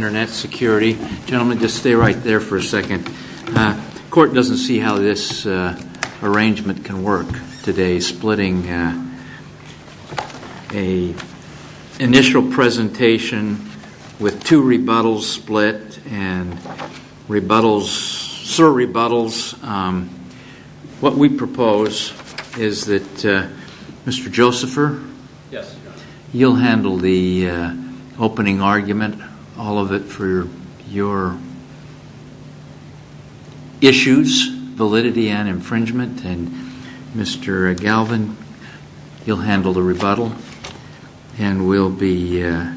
Gentlemen, just stay right there for a second. The court doesn't see how this arrangement can work today, splitting an initial presentation with two rebuttals split and rebuttals, surrebuttals. What we propose is that Mr. Josepher, you'll handle the opening argument, all of it for your issues, validity and infringement, and Mr. Galvin, you'll handle the rebuttal, and we'll be a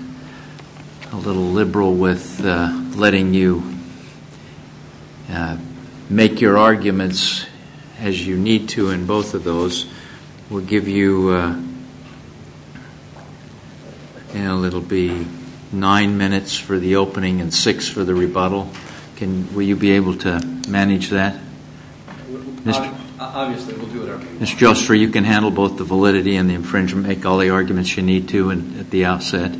little liberal with letting you make your arguments as you need to in both of those. We'll give you, you know, it'll be nine minutes for the opening and six for the rebuttal. Will you be able to manage that? Obviously, we'll do it our way. Mr. Josepher, you can handle both the validity and the infringement, make all the arguments you need to at the outset.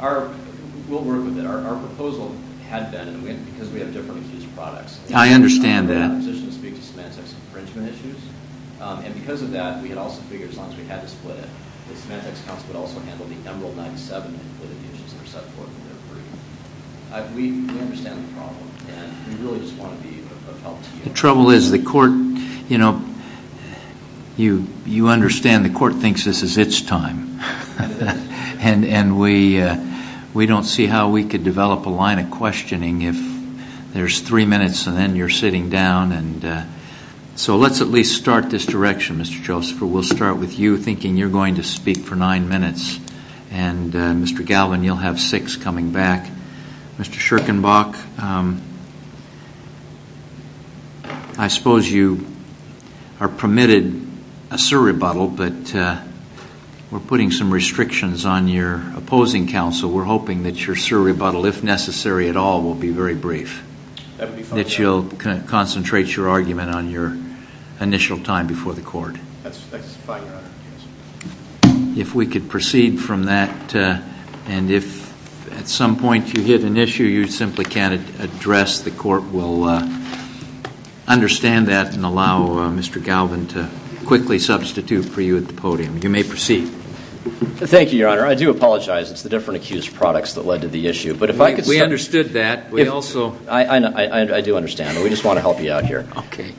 We'll work with it. Our proposal had been, because we have different accused products, I understand that. that we're not in a position to speak to Semantex infringement issues. And because of that, we had also figured as long as we had to split it, that Semantex counsel would also handle the Emerald 97 included issues that are set forth in their brief. We understand the problem, and we really just want to be of help to you. The trouble is the court, you know, you understand the court thinks this is its time, and we don't see how we could develop a line of questioning if there's three minutes and then you're sitting down. So let's at least start this direction, Mr. Josepher. We'll start with you, thinking you're going to speak for nine minutes, and Mr. Galvin, you'll have six coming back. Mr. Scherkenbach, I suppose you are permitted a surrebuttal, but we're putting some restrictions on your opposing counsel. We're hoping that your surrebuttal, if necessary at all, will be very brief. That you'll concentrate your argument on your initial time before the court. That's fine, Your Honor. If we could proceed from that, and if at some point you hit an issue you simply can't address, the court will understand that and allow Mr. Galvin to quickly substitute for you at the podium. You may proceed. Thank you, Your Honor. I do apologize. It's the different accused products that led to the issue. We understood that. I do understand, but we just want to help you out here.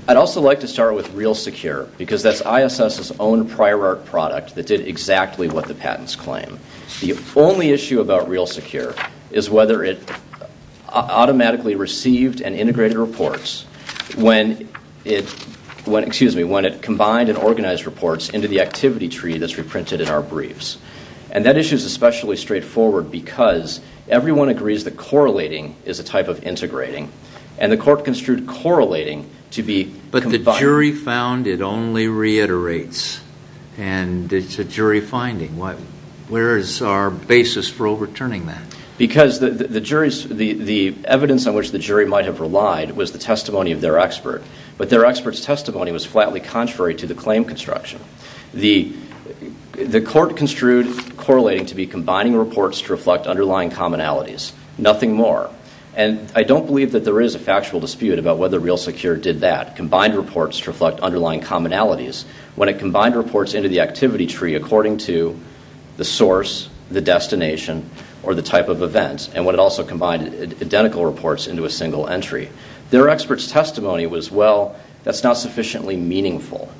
I'd also like to start with Real Secure, because that's ISS's own prior art product that did exactly what the patents claim. The only issue about Real Secure is whether it automatically received and integrated reports when it combined and organized reports into the activity tree that's reprinted in our briefs. And that issue is especially straightforward because everyone agrees that correlating is a type of integrating, and the court construed correlating to be combining. But the jury found it only reiterates, and it's a jury finding. Where is our basis for overturning that? Because the evidence on which the jury might have relied was the testimony of their expert, but their expert's testimony was flatly contrary to the claim construction. The court construed correlating to be combining reports to reflect underlying commonalities, nothing more. And I don't believe that there is a factual dispute about whether Real Secure did that, combined reports to reflect underlying commonalities. When it combined reports into the activity tree according to the source, the destination, or the type of event, and when it also combined identical reports into a single entry, their expert's testimony was, well, that's not sufficiently meaningful.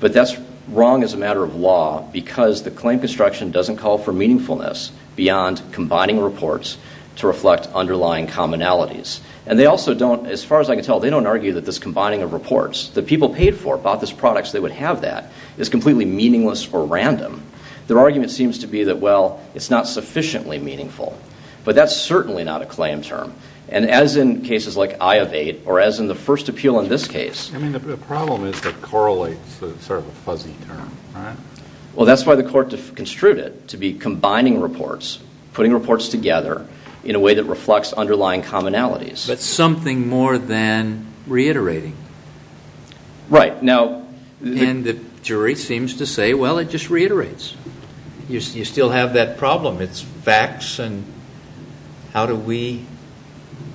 But that's wrong as a matter of law because the claim construction doesn't call for meaningfulness beyond combining reports to reflect underlying commonalities. And they also don't, as far as I can tell, they don't argue that this combining of reports that people paid for, bought this product so they would have that, is completely meaningless or random. Their argument seems to be that, well, it's not sufficiently meaningful. But that's certainly not a claim term. And as in cases like I of 8 or as in the first appeal in this case. I mean, the problem is that correlates is sort of a fuzzy term, right? Well, that's why the court construed it to be combining reports, putting reports together in a way that reflects underlying commonalities. But something more than reiterating. Right, now. And the jury seems to say, well, it just reiterates. You still have that problem. It's facts and how do we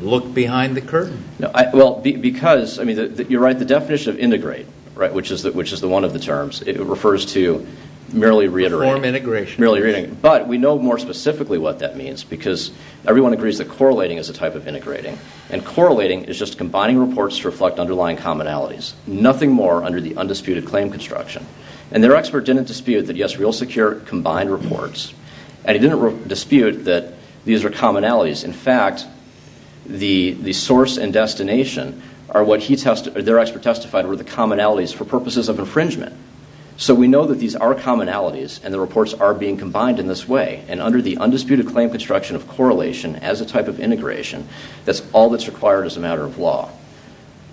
look behind the curtain? Well, because, I mean, you're right, the definition of integrate, right, which is the one of the terms, it refers to merely reiterating. Reform integration. Merely reiterating. But we know more specifically what that means because everyone agrees that correlating is a type of integrating. And correlating is just combining reports to reflect underlying commonalities. Nothing more under the undisputed claim construction. And their expert didn't dispute that, yes, real secure combined reports. And he didn't dispute that these are commonalities. In fact, the source and destination are what their expert testified were the commonalities for purposes of infringement. So we know that these are commonalities and the reports are being combined in this way. And under the undisputed claim construction of correlation as a type of integration, that's all that's required as a matter of law.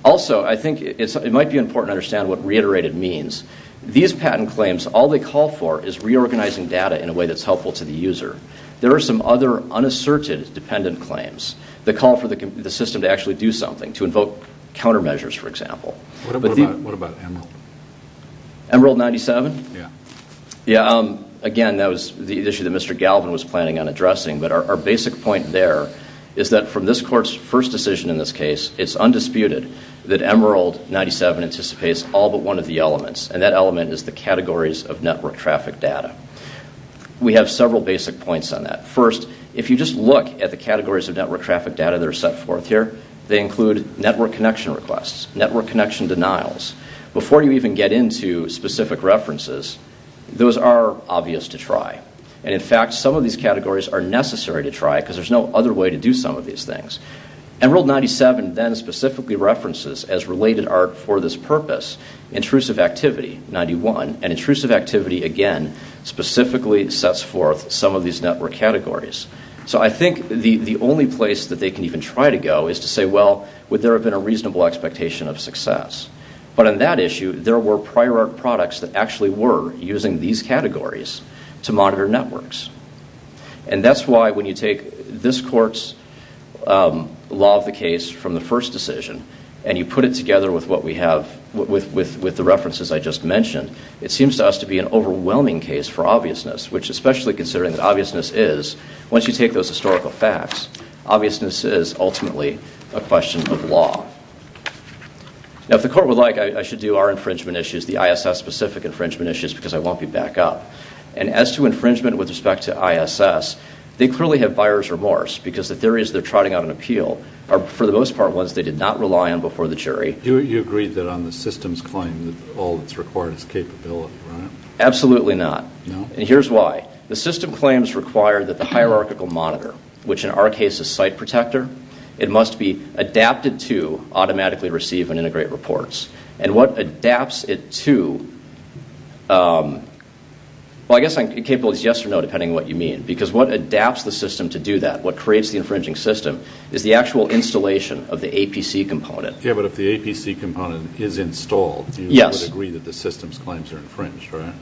Also, I think it might be important to understand what reiterated means. These patent claims, all they call for is reorganizing data in a way that's helpful to the user. There are some other unasserted dependent claims that call for the system to actually do something. To invoke countermeasures, for example. What about Emerald? Emerald 97? Yeah. Yeah, again, that was the issue that Mr. Galvin was planning on addressing. But our basic point there is that from this court's first decision in this case, it's undisputed that Emerald 97 anticipates all but one of the elements. And that element is the categories of network traffic data. We have several basic points on that. First, if you just look at the categories of network traffic data that are set forth here, they include network connection requests, network connection denials. Before you even get into specific references, those are obvious to try. And, in fact, some of these categories are necessary to try because there's no other way to do some of these things. Emerald 97 then specifically references as related art for this purpose, intrusive activity, 91. And intrusive activity, again, specifically sets forth some of these network categories. So I think the only place that they can even try to go is to say, well, would there have been a reasonable expectation of success? But on that issue, there were prior art products that actually were using these categories to monitor networks. And that's why when you take this court's law of the case from the first decision and you put it together with the references I just mentioned, it seems to us to be an overwhelming case for obviousness, which especially considering that obviousness is, once you take those historical facts, obviousness is ultimately a question of law. Now, if the court would like, I should do our infringement issues, the ISS-specific infringement issues, because I won't be back up. And as to infringement with respect to ISS, they clearly have buyer's remorse because the theories they're trotting out on appeal are, for the most part, ones they did not rely on before the jury. You agreed that on the system's claim that all that's required is capability, right? Absolutely not. No? And here's why. The system claims require that the hierarchical monitor, which in our case is site protector, it must be adapted to automatically receive and integrate reports. And what adapts it to – well, I guess on capabilities, yes or no, depending on what you mean. Because what adapts the system to do that, what creates the infringing system, is the actual installation of the APC component. Yeah, but if the APC component is installed, you would agree that the system's claims are infringed, right?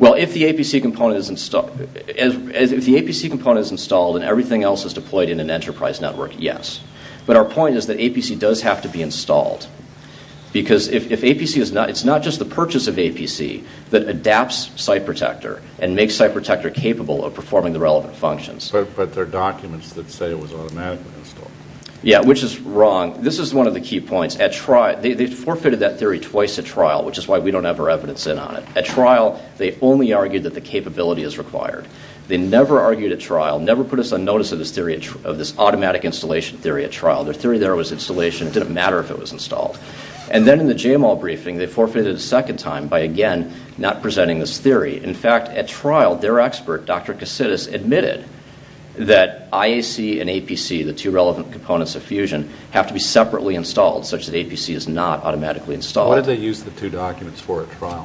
Well, if the APC component is installed and everything else is deployed in an enterprise network, yes. But our point is that APC does have to be installed. Because if APC is not – it's not just the purchase of APC that adapts site protector and makes site protector capable of performing the relevant functions. But they're documents that say it was automatically installed. Yeah, which is wrong. This is one of the key points. They forfeited that theory twice at trial, which is why we don't have our evidence in on it. At trial, they only argued that the capability is required. They never argued at trial, never put us on notice of this automatic installation theory at trial. Their theory there was installation. It didn't matter if it was installed. And then in the JMOL briefing, they forfeited a second time by, again, not presenting this theory. In fact, at trial, their expert, Dr. Kasidis, admitted that IAC and APC, the two relevant components of fusion, have to be separately installed such that APC is not automatically installed. Why did they use the two documents for at trial?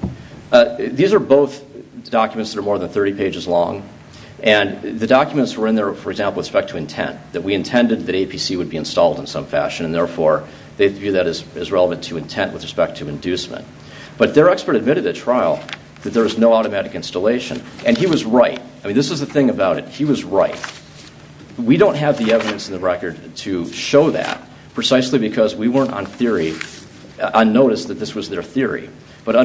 These are both documents that are more than 30 pages long. And the documents were in there, for example, with respect to intent, that we intended that APC would be installed in some fashion. And therefore, they view that as relevant to intent with respect to inducement. But their expert admitted at trial that there was no automatic installation. And he was right. I mean, this is the thing about it. He was right. We don't have the evidence in the record to show that, precisely because we weren't on notice that this was their theory. But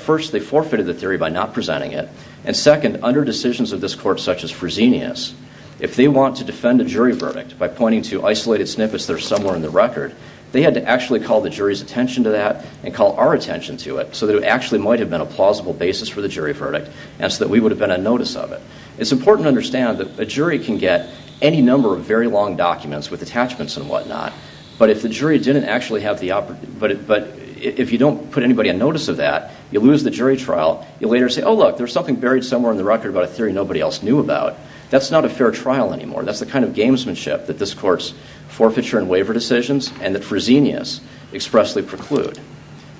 first, they forfeited the theory by not presenting it. And second, under decisions of this court, such as Fresenius, if they want to defend a jury verdict by pointing to isolated snippets that are somewhere in the record, they had to actually call the jury's attention to that and call our attention to it so that it actually might have been a plausible basis for the jury verdict and so that we would have been on notice of it. It's important to understand that a jury can get any number of very long documents with attachments and whatnot, but if you don't put anybody on notice of that, you lose the jury trial. You later say, oh, look, there's something buried somewhere in the record about a theory nobody else knew about. That's not a fair trial anymore. That's the kind of gamesmanship that this court's forfeiture and waiver decisions and that Fresenius expressly preclude.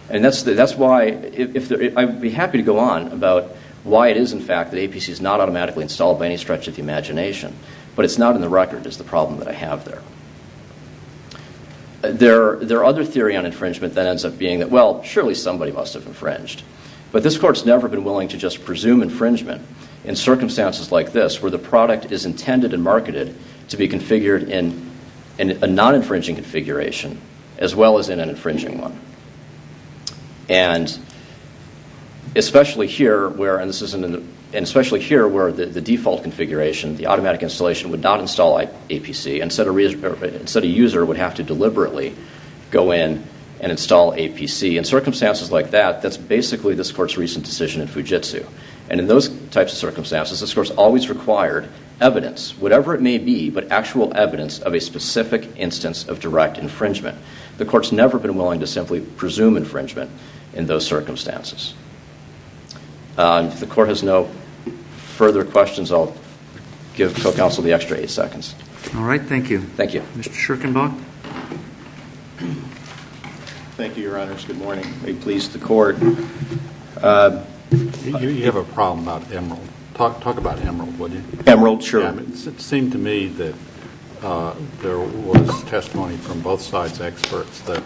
And that's why I'd be happy to go on about why it is, in fact, that APC is not automatically installed by any stretch of the imagination, but it's not in the record is the problem that I have there. Their other theory on infringement then ends up being that, well, surely somebody must have infringed. But this court's never been willing to just presume infringement in circumstances like this, where the product is intended and marketed to be configured in a non-infringing configuration, as well as in an infringing one. And especially here, where the default configuration, the automatic installation, would not install APC. Instead, a user would have to deliberately go in and install APC. In circumstances like that, that's basically this court's recent decision in Fujitsu. And in those types of circumstances, this court's always required evidence, whatever it may be, but actual evidence of a specific instance of direct infringement. The court's never been willing to simply presume infringement in those circumstances. If the court has no further questions, I'll give co-counsel the extra eight seconds. All right, thank you. Thank you. Mr. Schierkenbach? Thank you, Your Honors. Good morning. May it please the court. You have a problem about Emerald. Talk about Emerald, would you? Emerald, sure. It seemed to me that there was testimony from both sides, experts, that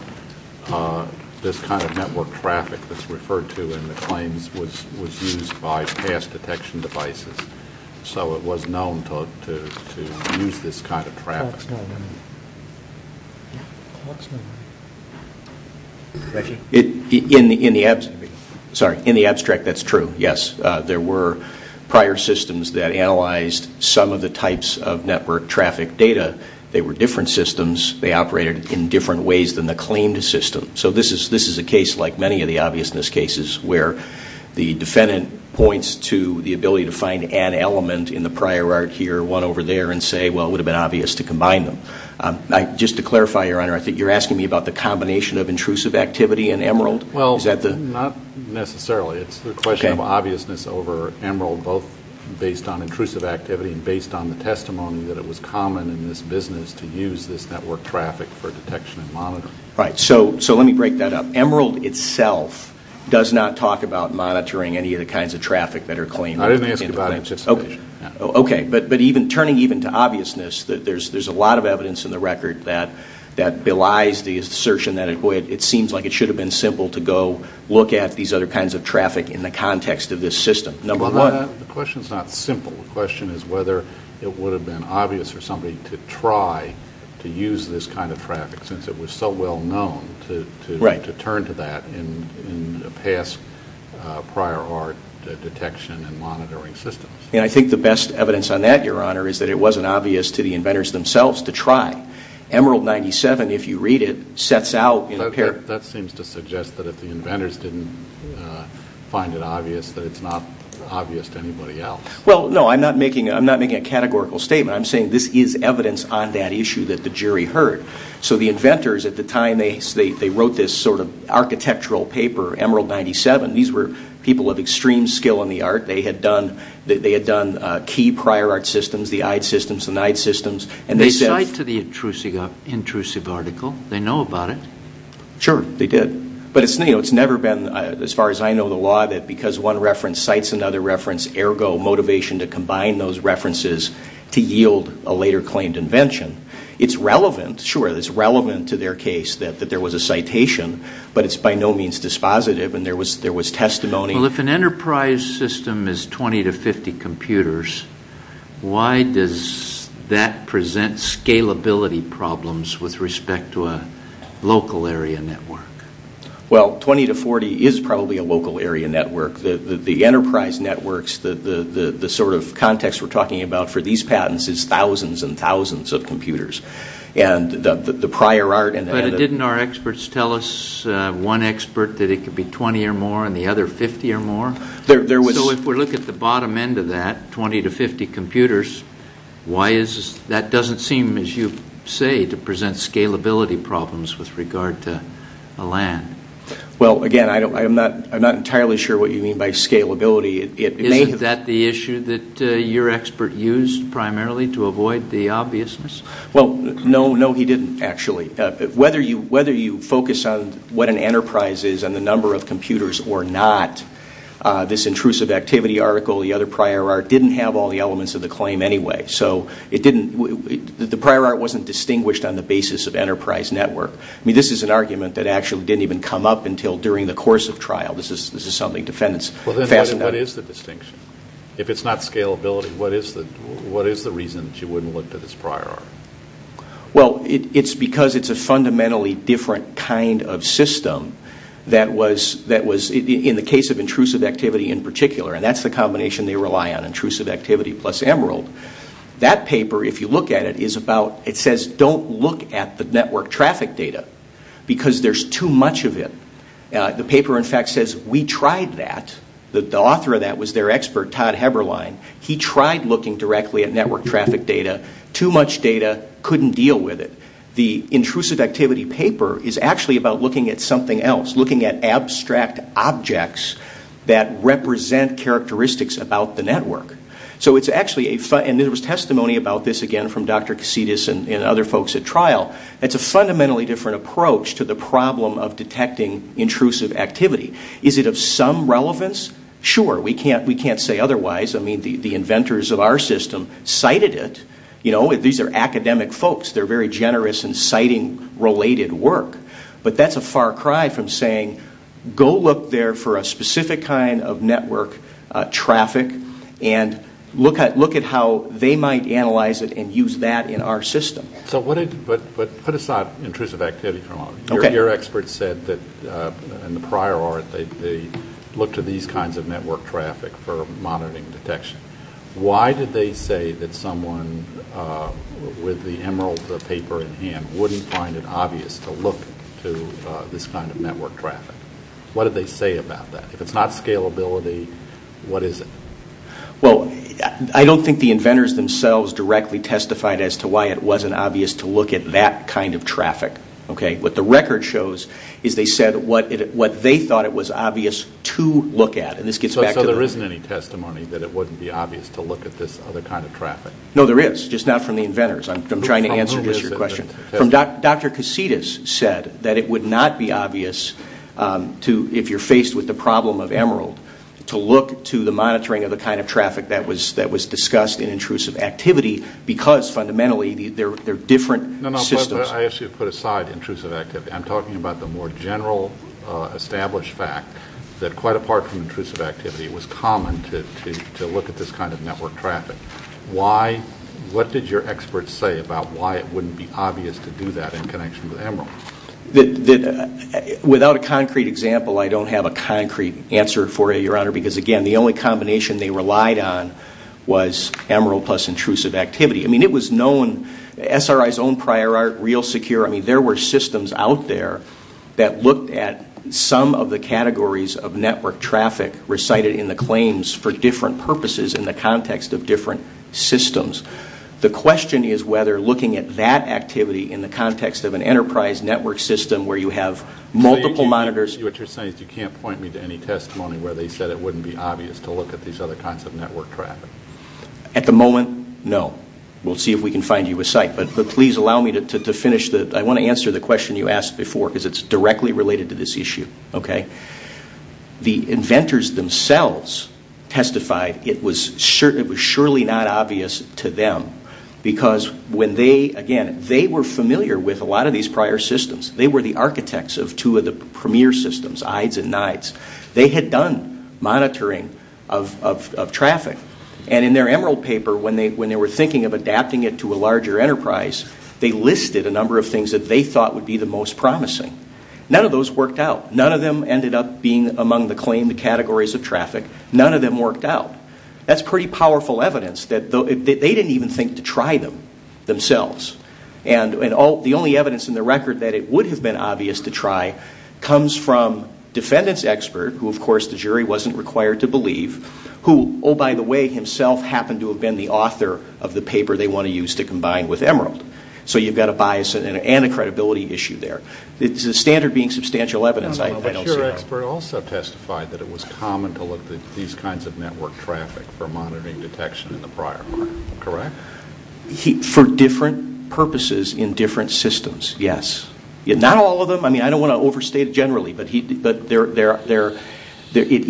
this kind of network traffic that's referred to in the claims was used by past detection devices. So it was known to use this kind of traffic. The court's not willing. The court's not willing. Thank you. In the abstract, that's true, yes. There were prior systems that analyzed some of the types of network traffic data. They were different systems. They operated in different ways than the claimed system. So this is a case, like many of the obviousness cases, where the defendant points to the ability to find an element in the prior art here, one over there, and say, well, it would have been obvious to combine them. Just to clarify, Your Honor, I think you're asking me about the combination of intrusive activity and Emerald? Well, not necessarily. It's the question of obviousness over Emerald, both based on intrusive activity and based on the testimony that it was common in this business to use this network traffic for detection and monitoring. Right. So let me break that up. Emerald itself does not talk about monitoring any of the kinds of traffic that are claimed. I didn't ask about anticipation. Okay. But turning even to obviousness, there's a lot of evidence in the record that belies the assertion that it seems like it should have been simple to go look at these other kinds of traffic in the context of this system. Number one. The question is not simple. The question is whether it would have been obvious for somebody to try to use this kind of traffic, since it was so well known, to turn to that in past prior art detection and monitoring systems. And I think the best evidence on that, Your Honor, is that it wasn't obvious to the inventors themselves to try. Emerald 97, if you read it, sets out in apparent That seems to suggest that if the inventors didn't find it obvious, that it's not obvious to anybody else. Well, no, I'm not making a categorical statement. I'm saying this is evidence on that issue that the jury heard. So the inventors at the time, they wrote this sort of architectural paper, Emerald 97. These were people of extreme skill in the art. They had done key prior art systems, the Eid systems, the Neid systems. They cite to the intrusive article. They know about it. Sure, they did. But it's never been, as far as I know the law, that because one reference cites another reference, ergo motivation to combine those references to yield a later claimed invention. It's relevant, sure, it's relevant to their case that there was a citation, but it's by no means dispositive and there was testimony. Well, if an enterprise system is 20 to 50 computers, why does that present scalability problems with respect to a local area network? Well, 20 to 40 is probably a local area network. The enterprise networks, the sort of context we're talking about for these patents, is thousands and thousands of computers. And the prior art and the But didn't our experts tell us, one expert, that it could be 20 or more and the other 50 or more? So if we look at the bottom end of that, 20 to 50 computers, that doesn't seem, as you say, to present scalability problems with regard to a land. Well, again, I'm not entirely sure what you mean by scalability. Isn't that the issue that your expert used primarily to avoid the obviousness? Well, no, no, he didn't, actually. Whether you focus on what an enterprise is and the number of computers or not, this intrusive activity article, the other prior art, didn't have all the elements of the claim anyway. So the prior art wasn't distinguished on the basis of enterprise network. I mean, this is an argument that actually didn't even come up until during the course of trial. This is something defendants fastened up. Well, then what is the distinction? If it's not scalability, what is the reason that you wouldn't look at this prior art? Well, it's because it's a fundamentally different kind of system that was, in the case of intrusive activity in particular, and that's the combination they rely on, intrusive activity plus Emerald. That paper, if you look at it, is about, it says don't look at the network traffic data because there's too much of it. The paper, in fact, says we tried that. The author of that was their expert, Todd Heberlein. He tried looking directly at network traffic data. Too much data, couldn't deal with it. The intrusive activity paper is actually about looking at something else, looking at abstract objects that represent characteristics about the network. So it's actually a, and there was testimony about this, again, from Dr. Cassidis and other folks at trial. It's a fundamentally different approach to the problem of detecting intrusive activity. Is it of some relevance? Sure. We can't say otherwise. I mean, the inventors of our system cited it. These are academic folks. They're very generous in citing related work. But that's a far cry from saying go look there for a specific kind of network traffic and look at how they might analyze it and use that in our system. So what did, but put aside intrusive activity for a moment. Okay. Your expert said that in the prior art they looked at these kinds of network traffic for monitoring detection. Why did they say that someone with the emerald paper in hand wouldn't find it obvious to look to this kind of network traffic? What did they say about that? If it's not scalability, what is it? Well, I don't think the inventors themselves directly testified as to why it wasn't obvious to look at that kind of traffic. Okay. What the record shows is they said what they thought it was obvious to look at. So there isn't any testimony that it wouldn't be obvious to look at this other kind of traffic? No, there is. Just not from the inventors. I'm trying to answer just your question. Dr. Casitas said that it would not be obvious to, if you're faced with the problem of emerald, to look to the monitoring of the kind of traffic that was discussed in intrusive activity because fundamentally they're different systems. No, no, I actually put aside intrusive activity. I'm talking about the more general established fact that quite apart from intrusive activity, it was common to look at this kind of network traffic. What did your experts say about why it wouldn't be obvious to do that in connection with emerald? Without a concrete example, I don't have a concrete answer for you, Your Honor, because, again, the only combination they relied on was emerald plus intrusive activity. I mean, it was known, SRI's own prior art, real secure. I mean, there were systems out there that looked at some of the categories of network traffic recited in the claims for different purposes in the context of different systems. The question is whether looking at that activity in the context of an enterprise network system where you have multiple monitors. What you're saying is you can't point me to any testimony where they said it wouldn't be obvious to look at these other kinds of network traffic. At the moment, no. We'll see if we can find you a site. But please allow me to finish. I want to answer the question you asked before because it's directly related to this issue. The inventors themselves testified it was surely not obvious to them because when they, again, they were familiar with a lot of these prior systems. They were the architects of two of the premier systems, IDEs and NIDEs. They had done monitoring of traffic. And in their emerald paper, when they were thinking of adapting it to a larger enterprise, they listed a number of things that they thought would be the most promising. None of those worked out. None of them ended up being among the claimed categories of traffic. None of them worked out. That's pretty powerful evidence that they didn't even think to try them themselves. And the only evidence in the record that it would have been obvious to try comes from defendant's expert, who, of course, the jury wasn't required to believe, who, oh, by the way, himself happened to have been the author of the paper they want to use to combine with emerald. So you've got a bias and a credibility issue there. The standard being substantial evidence, I don't see that. But your expert also testified that it was common to look at these kinds of network traffic for monitoring detection in the prior part, correct? For different purposes in different systems, yes. Not all of them. I mean, I don't want to overstate it generally, but it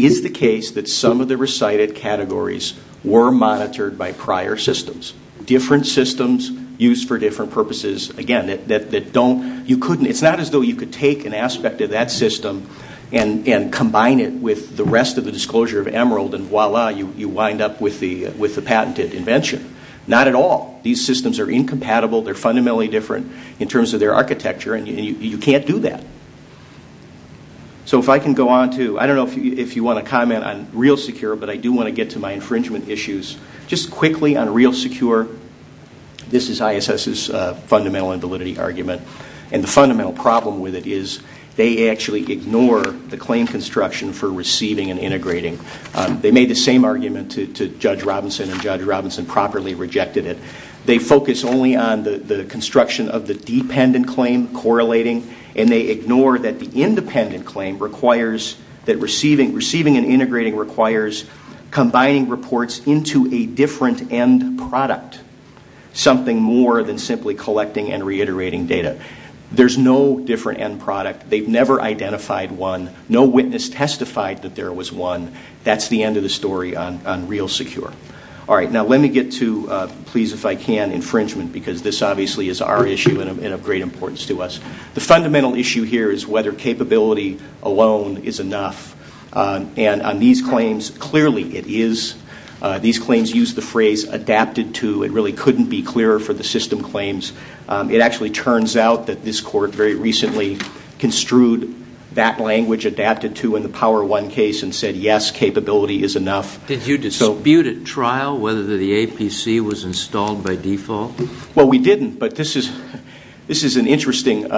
is the case that some of the recited categories were monitored by prior systems. Different systems used for different purposes. Again, it's not as though you could take an aspect of that system and combine it with the rest of the disclosure of emerald, and voila, you wind up with the patented invention. Not at all. These systems are incompatible. They're fundamentally different in terms of their architecture, and you can't do that. So if I can go on to, I don't know if you want to comment on real secure, but I do want to get to my infringement issues. Just quickly on real secure, this is ISS's fundamental and validity argument, and the fundamental problem with it is they actually ignore the claim construction for receiving and integrating. They made the same argument to Judge Robinson, and Judge Robinson properly rejected it. They focus only on the construction of the dependent claim correlating, and they ignore that the independent claim requires that receiving and integrating requires combining reports into a different end product, something more than simply collecting and reiterating data. There's no different end product. They've never identified one. No witness testified that there was one. That's the end of the story on real secure. All right, now let me get to, please, if I can, infringement, because this obviously is our issue and of great importance to us. The fundamental issue here is whether capability alone is enough, and on these claims, clearly it is. These claims use the phrase adapted to. It really couldn't be clearer for the system claims. It actually turns out that this court very recently construed that language adapted to in the Power One case and said, yes, capability is enough. Did you dispute at trial whether the APC was installed by default? Well, we didn't, but this is an interesting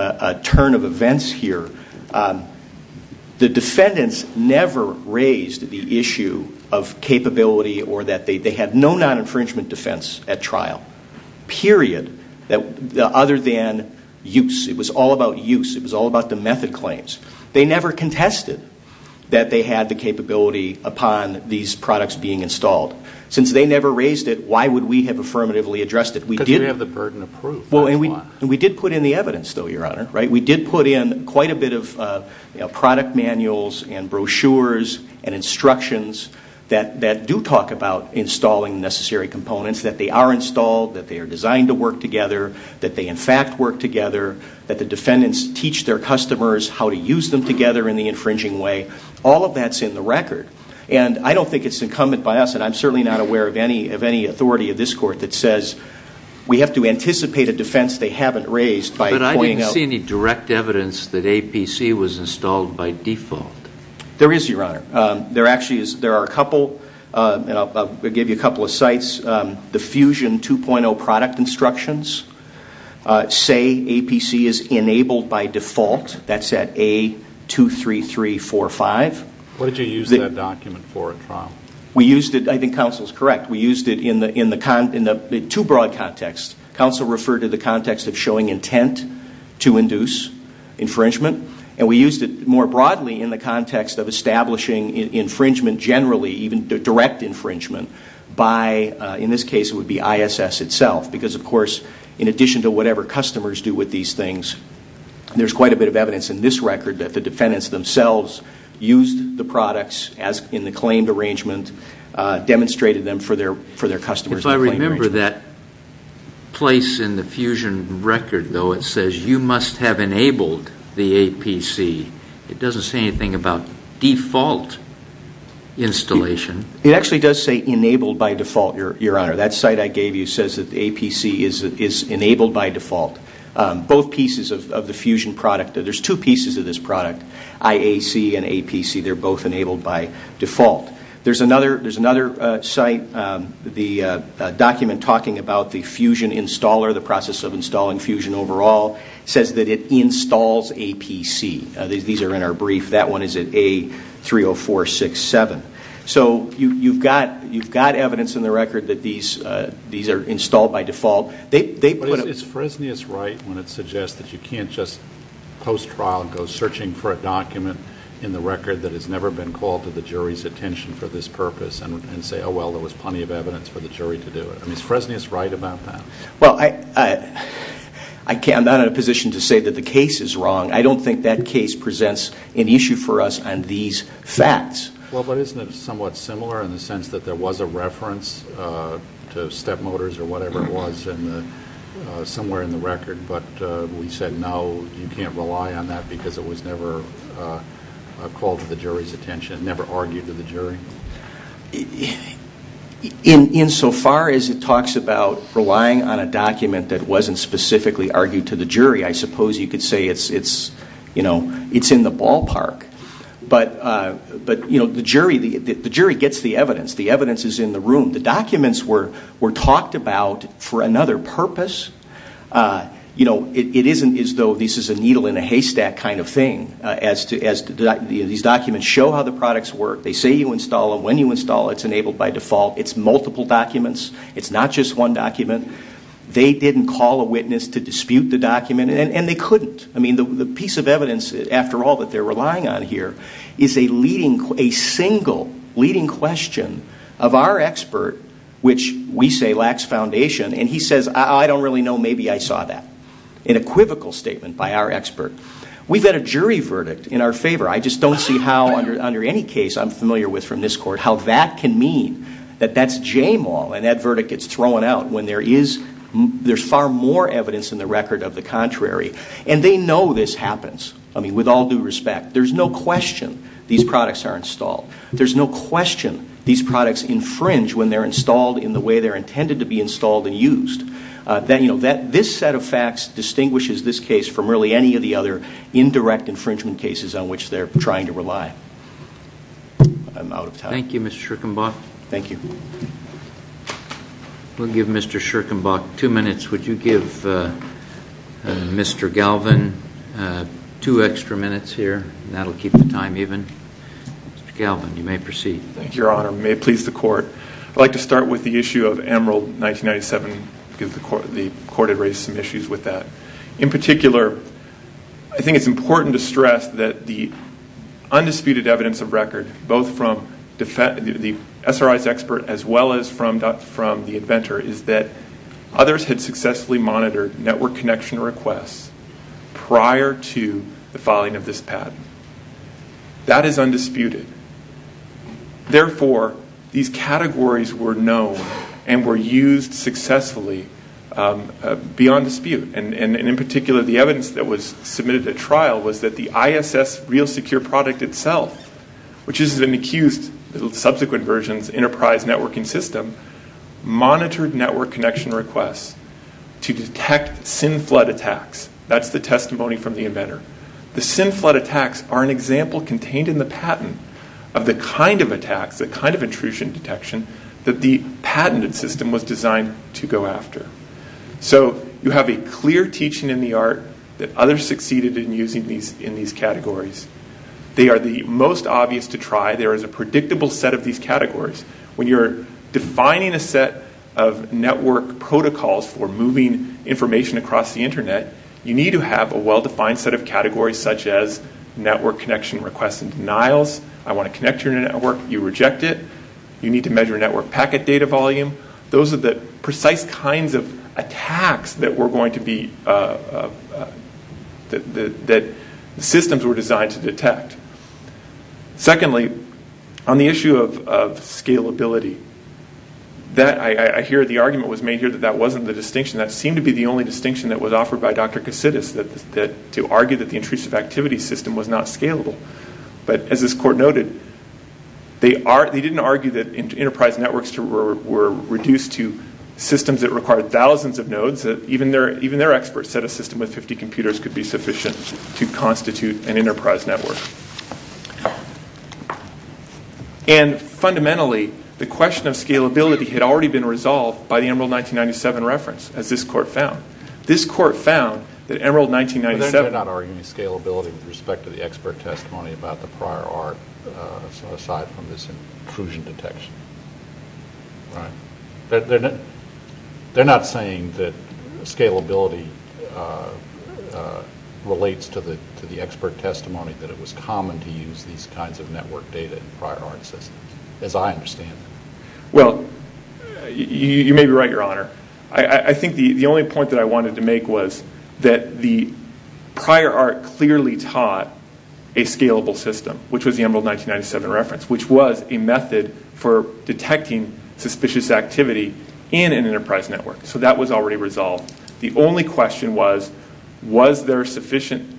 turn of events here. The defendants never raised the issue of capability or that they had no non-infringement defense at trial, period, other than use. It was all about use. It was all about the method claims. They never contested that they had the capability upon these products being installed. Since they never raised it, why would we have affirmatively addressed it? Because we have the burden of proof, that's why. We did put in the evidence, though, Your Honor. We did put in quite a bit of product manuals and brochures and instructions that do talk about installing necessary components, that they are installed, that they are designed to work together, that they, in fact, work together, that the defendants teach their customers how to use them together in the infringing way. All of that's in the record, and I don't think it's incumbent by us, and I'm certainly not aware of any authority of this court that says we have to anticipate a defense they haven't raised by pointing out. But I didn't see any direct evidence that APC was installed by default. There is, Your Honor. There actually is. There are a couple, and I'll give you a couple of sites. The Fusion 2.0 product instructions say APC is enabled by default. That's at A23345. What did you use that document for at trial? We used it. I think counsel is correct. We used it in two broad contexts. Counsel referred to the context of showing intent to induce infringement, and we used it more broadly in the context of establishing infringement generally, even direct infringement by, in this case, it would be ISS itself, because, of course, in addition to whatever customers do with these things, there's quite a bit of evidence in this record that the defendants themselves used the products in the claimed arrangement, demonstrated them for their customers. If I remember that place in the Fusion record, though, it says you must have enabled the APC. It doesn't say anything about default installation. It actually does say enabled by default, Your Honor. That site I gave you says that the APC is enabled by default. Both pieces of the Fusion product, there's two pieces of this product, IAC and APC. They're both enabled by default. There's another site, the document talking about the Fusion installer, the process of installing Fusion overall, says that it installs APC. These are in our brief. That one is at A30467. So you've got evidence in the record that these are installed by default. But is Fresnius right when it suggests that you can't just post-trial for a document in the record that has never been called to the jury's attention for this purpose and say, oh, well, there was plenty of evidence for the jury to do it? I mean, is Fresnius right about that? Well, I'm not in a position to say that the case is wrong. I don't think that case presents an issue for us on these facts. Well, but isn't it somewhat similar in the sense that there was a reference to Step Motors or whatever it was somewhere in the record, but we said, no, you can't rely on that because it was never called to the jury's attention, never argued to the jury? Insofar as it talks about relying on a document that wasn't specifically argued to the jury, I suppose you could say it's in the ballpark. But the jury gets the evidence. The evidence is in the room. The documents were talked about for another purpose. It isn't as though this is a needle in a haystack kind of thing. These documents show how the products work. They say you install them. When you install it, it's enabled by default. It's multiple documents. It's not just one document. They didn't call a witness to dispute the document, and they couldn't. I mean, the piece of evidence, after all, that they're relying on here is a single leading question of our expert, which we say lacks foundation. And he says, I don't really know. Maybe I saw that. An equivocal statement by our expert. We've had a jury verdict in our favor. I just don't see how, under any case I'm familiar with from this court, how that can mean that that's jamal and that verdict gets thrown out when there's far more evidence in the record of the contrary. And they know this happens. I mean, with all due respect, there's no question these products are installed. There's no question these products infringe when they're installed in the way they're intended to be installed and used. This set of facts distinguishes this case from really any of the other indirect infringement cases on which they're trying to rely. I'm out of time. Thank you, Mr. Schirkenbach. Thank you. We'll give Mr. Schirkenbach two minutes. Would you give Mr. Galvin two extra minutes here? That will keep the time even. Mr. Galvin, you may proceed. Thank you, Your Honor. May it please the Court. I'd like to start with the issue of Emerald 1997 because the Court had raised some issues with that. In particular, I think it's important to stress that the undisputed evidence of record, both from the SRI's expert as well as from the inventor, is that others had successfully monitored network connection requests prior to the filing of this patent. That is undisputed. Therefore, these categories were known and were used successfully beyond dispute. In particular, the evidence that was submitted at trial was that the ISS real secure product itself, which is an accused subsequent version's enterprise networking system, monitored network connection requests to detect SIM flood attacks. That's the testimony from the inventor. The SIM flood attacks are an example contained in the patent of the kind of attacks, the kind of intrusion detection, that the patented system was designed to go after. So you have a clear teaching in the art that others succeeded in using these categories. They are the most obvious to try. There is a predictable set of these categories. When you're defining a set of network protocols for moving information across the Internet, you need to have a well-defined set of categories such as network connection requests and denials. I want to connect to your network. You reject it. You need to measure network packet data volume. Those are the precise kinds of attacks that systems were designed to detect. Secondly, on the issue of scalability, I hear the argument was made here that that wasn't the distinction. That seemed to be the only distinction that was offered by Dr. Cassidis, to argue that the intrusive activity system was not scalable. But as this court noted, they didn't argue that enterprise networks were reduced to systems that required thousands of nodes. Even their experts said a system with 50 computers could be sufficient to constitute an enterprise network. Fundamentally, the question of scalability had already been resolved by the Emerald 1997 reference, as this court found. This court found that Emerald 1997... They're not arguing scalability with respect to the expert testimony about the prior art, aside from this intrusion detection. Right. They're not saying that scalability relates to the expert testimony, that it was common to use these kinds of network data in prior art systems, as I understand it. Well, you may be right, Your Honor. I think the only point that I wanted to make was that the prior art clearly taught a scalable system, which was the Emerald 1997 reference, which was a method for detecting suspicious activity in an enterprise network. So that was already resolved. The only question was, was there sufficient...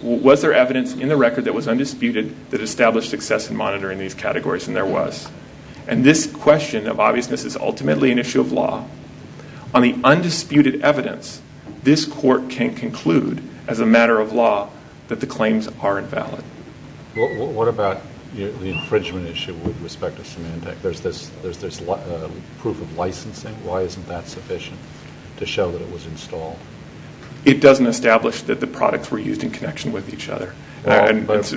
Was there evidence in the record that was undisputed that established success in monitoring these categories? And there was. And this question of obviousness is ultimately an issue of law. On the undisputed evidence, this court can conclude, as a matter of law, that the claims are invalid. What about the infringement issue with respect to Symantec? There's proof of licensing. Why isn't that sufficient to show that it was installed? It doesn't establish that the products were used in connection with each other. But let's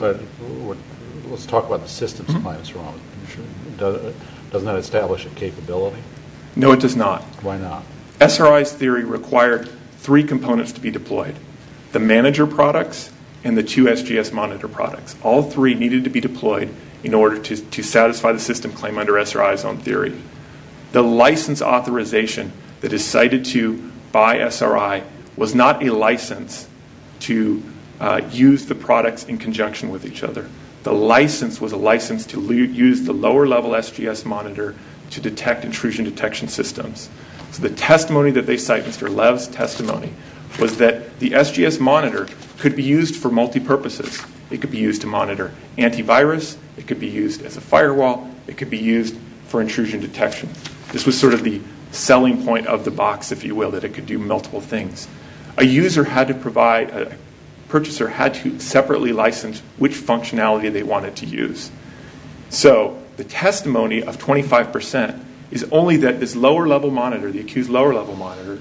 talk about the systems and why it's wrong. Doesn't that establish a capability? No, it does not. Why not? SRI's theory required three components to be deployed, the manager products and the two SGS monitor products. All three needed to be deployed in order to satisfy the system claim under SRI's own theory. The license authorization that is cited to buy SRI was not a license to use the products in conjunction with each other. The license was a license to use the lower-level SGS monitor to detect intrusion detection systems. So the testimony that they cite, Mr. Lev's testimony, was that the SGS monitor could be used for multi-purposes. It could be used to monitor antivirus. It could be used as a firewall. It could be used for intrusion detection. This was sort of the selling point of the box, if you will, that it could do multiple things. A user had to provide, a purchaser had to separately license which functionality they wanted to use. So the testimony of 25% is only that this lower-level monitor, the accused lower-level monitor,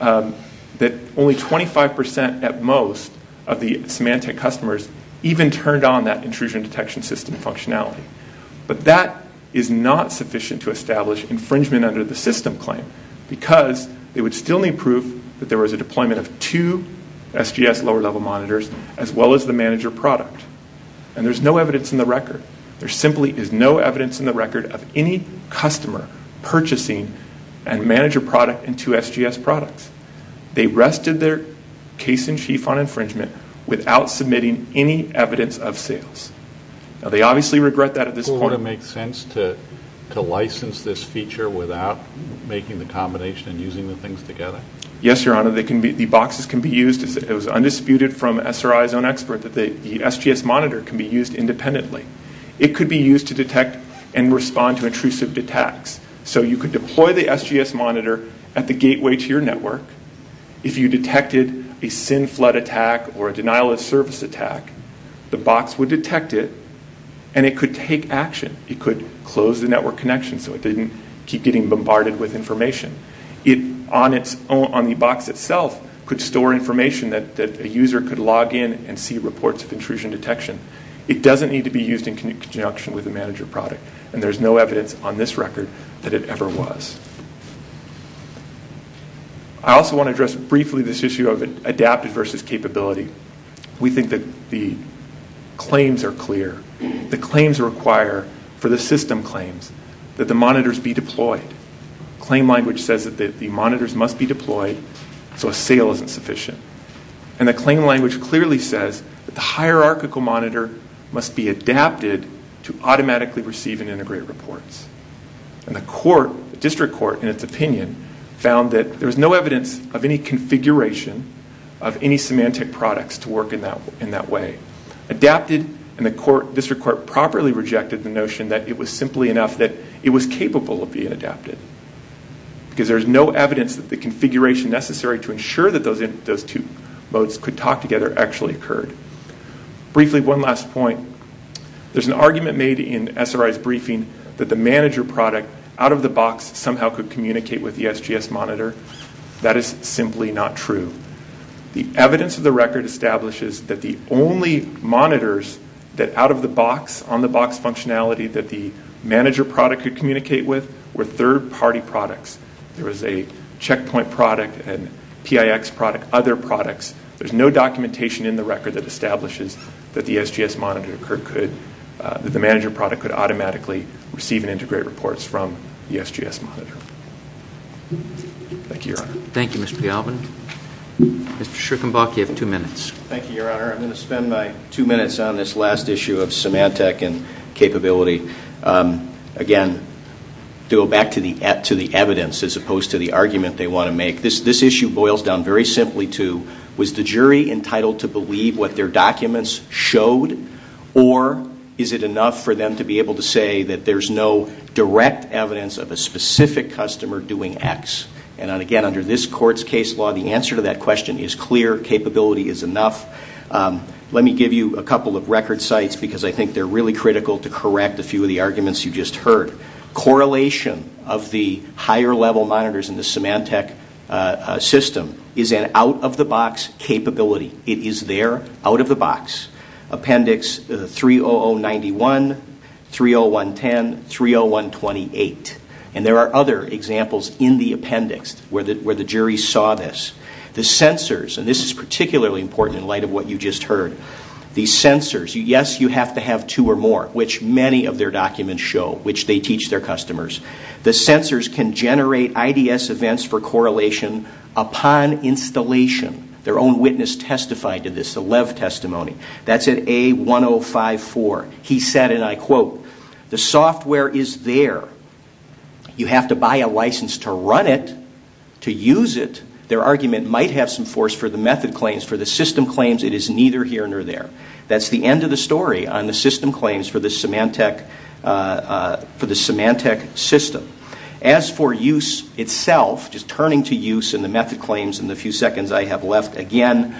that only 25% at most of the Symantec customers even turned on that intrusion detection system functionality. But that is not sufficient to establish infringement under the system claim because they would still need proof that there was a deployment of two SGS lower-level monitors as well as the manager product. And there's no evidence in the record. There simply is no evidence in the record of any customer purchasing a manager product and two SGS products. They rested their case-in-chief on infringement without submitting any evidence of sales. Now they obviously regret that at this point. Does it sort of make sense to license this feature without making the combination and using the things together? Yes, Your Honor. The boxes can be used. It was undisputed from SRI's own expert that the SGS monitor can be used independently. It could be used to detect and respond to intrusive attacks. So you could deploy the SGS monitor at the gateway to your network. If you detected a sin flood attack or a denial of service attack, the box would detect it, and it could take action. It could close the network connection so it didn't keep getting bombarded with information. It, on the box itself, could store information that a user could log in and see reports of intrusion detection. It doesn't need to be used in conjunction with a manager product, and there's no evidence on this record that it ever was. I also want to address briefly this issue of adaptive versus capability. We think that the claims are clear. The claims require, for the system claims, that the monitors be deployed. Claim language says that the monitors must be deployed so a sale isn't sufficient. And the claim language clearly says that the hierarchical monitor must be adapted to automatically receive and integrate reports. And the district court, in its opinion, found that there was no evidence of any configuration of any semantic products to work in that way. Adapted, and the district court properly rejected the notion that it was simply enough that it was capable of being adapted. Because there's no evidence that the configuration necessary to ensure that those two modes could talk together actually occurred. Briefly, one last point. There's an argument made in SRI's briefing that the manager product, out of the box, somehow could communicate with the SGS monitor. That is simply not true. The evidence of the record establishes that the only monitors that, out of the box, on the box functionality, that the manager product could communicate with were third-party products. There was a checkpoint product, a PIX product, other products. There's no documentation in the record that establishes that the SGS monitor could, that the manager product could automatically receive and integrate reports from the SGS monitor. Thank you, Your Honor. Thank you, Mr. Galvin. Mr. Schickenbach, you have two minutes. Thank you, Your Honor. I'm going to spend my two minutes on this last issue of semantic and capability. Again, to go back to the evidence as opposed to the argument they want to make, this issue boils down very simply to was the jury entitled to believe what their documents showed, or is it enough for them to be able to say that there's no direct evidence of a specific customer doing X? And, again, under this Court's case law, the answer to that question is clear. Capability is enough. Let me give you a couple of record sites because I think they're really critical to correct a few of the arguments you just heard. Correlation of the higher level monitors in the Symantec system is an out-of-the-box capability. It is there out-of-the-box. Appendix 30091, 30110, 30128. And there are other examples in the appendix where the jury saw this. The sensors, and this is particularly important in light of what you just heard, the sensors, yes, you have to have two or more, which many of their documents show, which they teach their customers. The sensors can generate IDS events for correlation upon installation. Their own witness testified to this, a Lev testimony. That's at A1054. He said, and I quote, The software is there. You have to buy a license to run it, to use it. Their argument might have some force for the method claims. For the system claims, it is neither here nor there. That's the end of the story on the system claims for the Symantec system. As for use itself, just turning to use and the method claims in the few seconds I have left, again,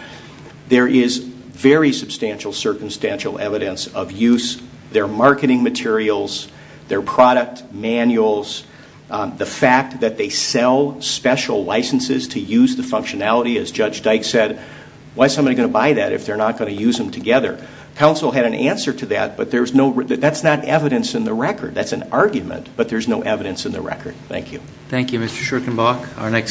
there is very substantial circumstantial evidence of use. Their marketing materials, their product manuals, the fact that they sell special licenses to use the functionality, as Judge Dyke said, why is somebody going to buy that if they're not going to use them together? Counsel had an answer to that, but that's not evidence in the record. That's an argument, but there's no evidence in the record. Thank you. Thank you, Mr. Schurkenbach.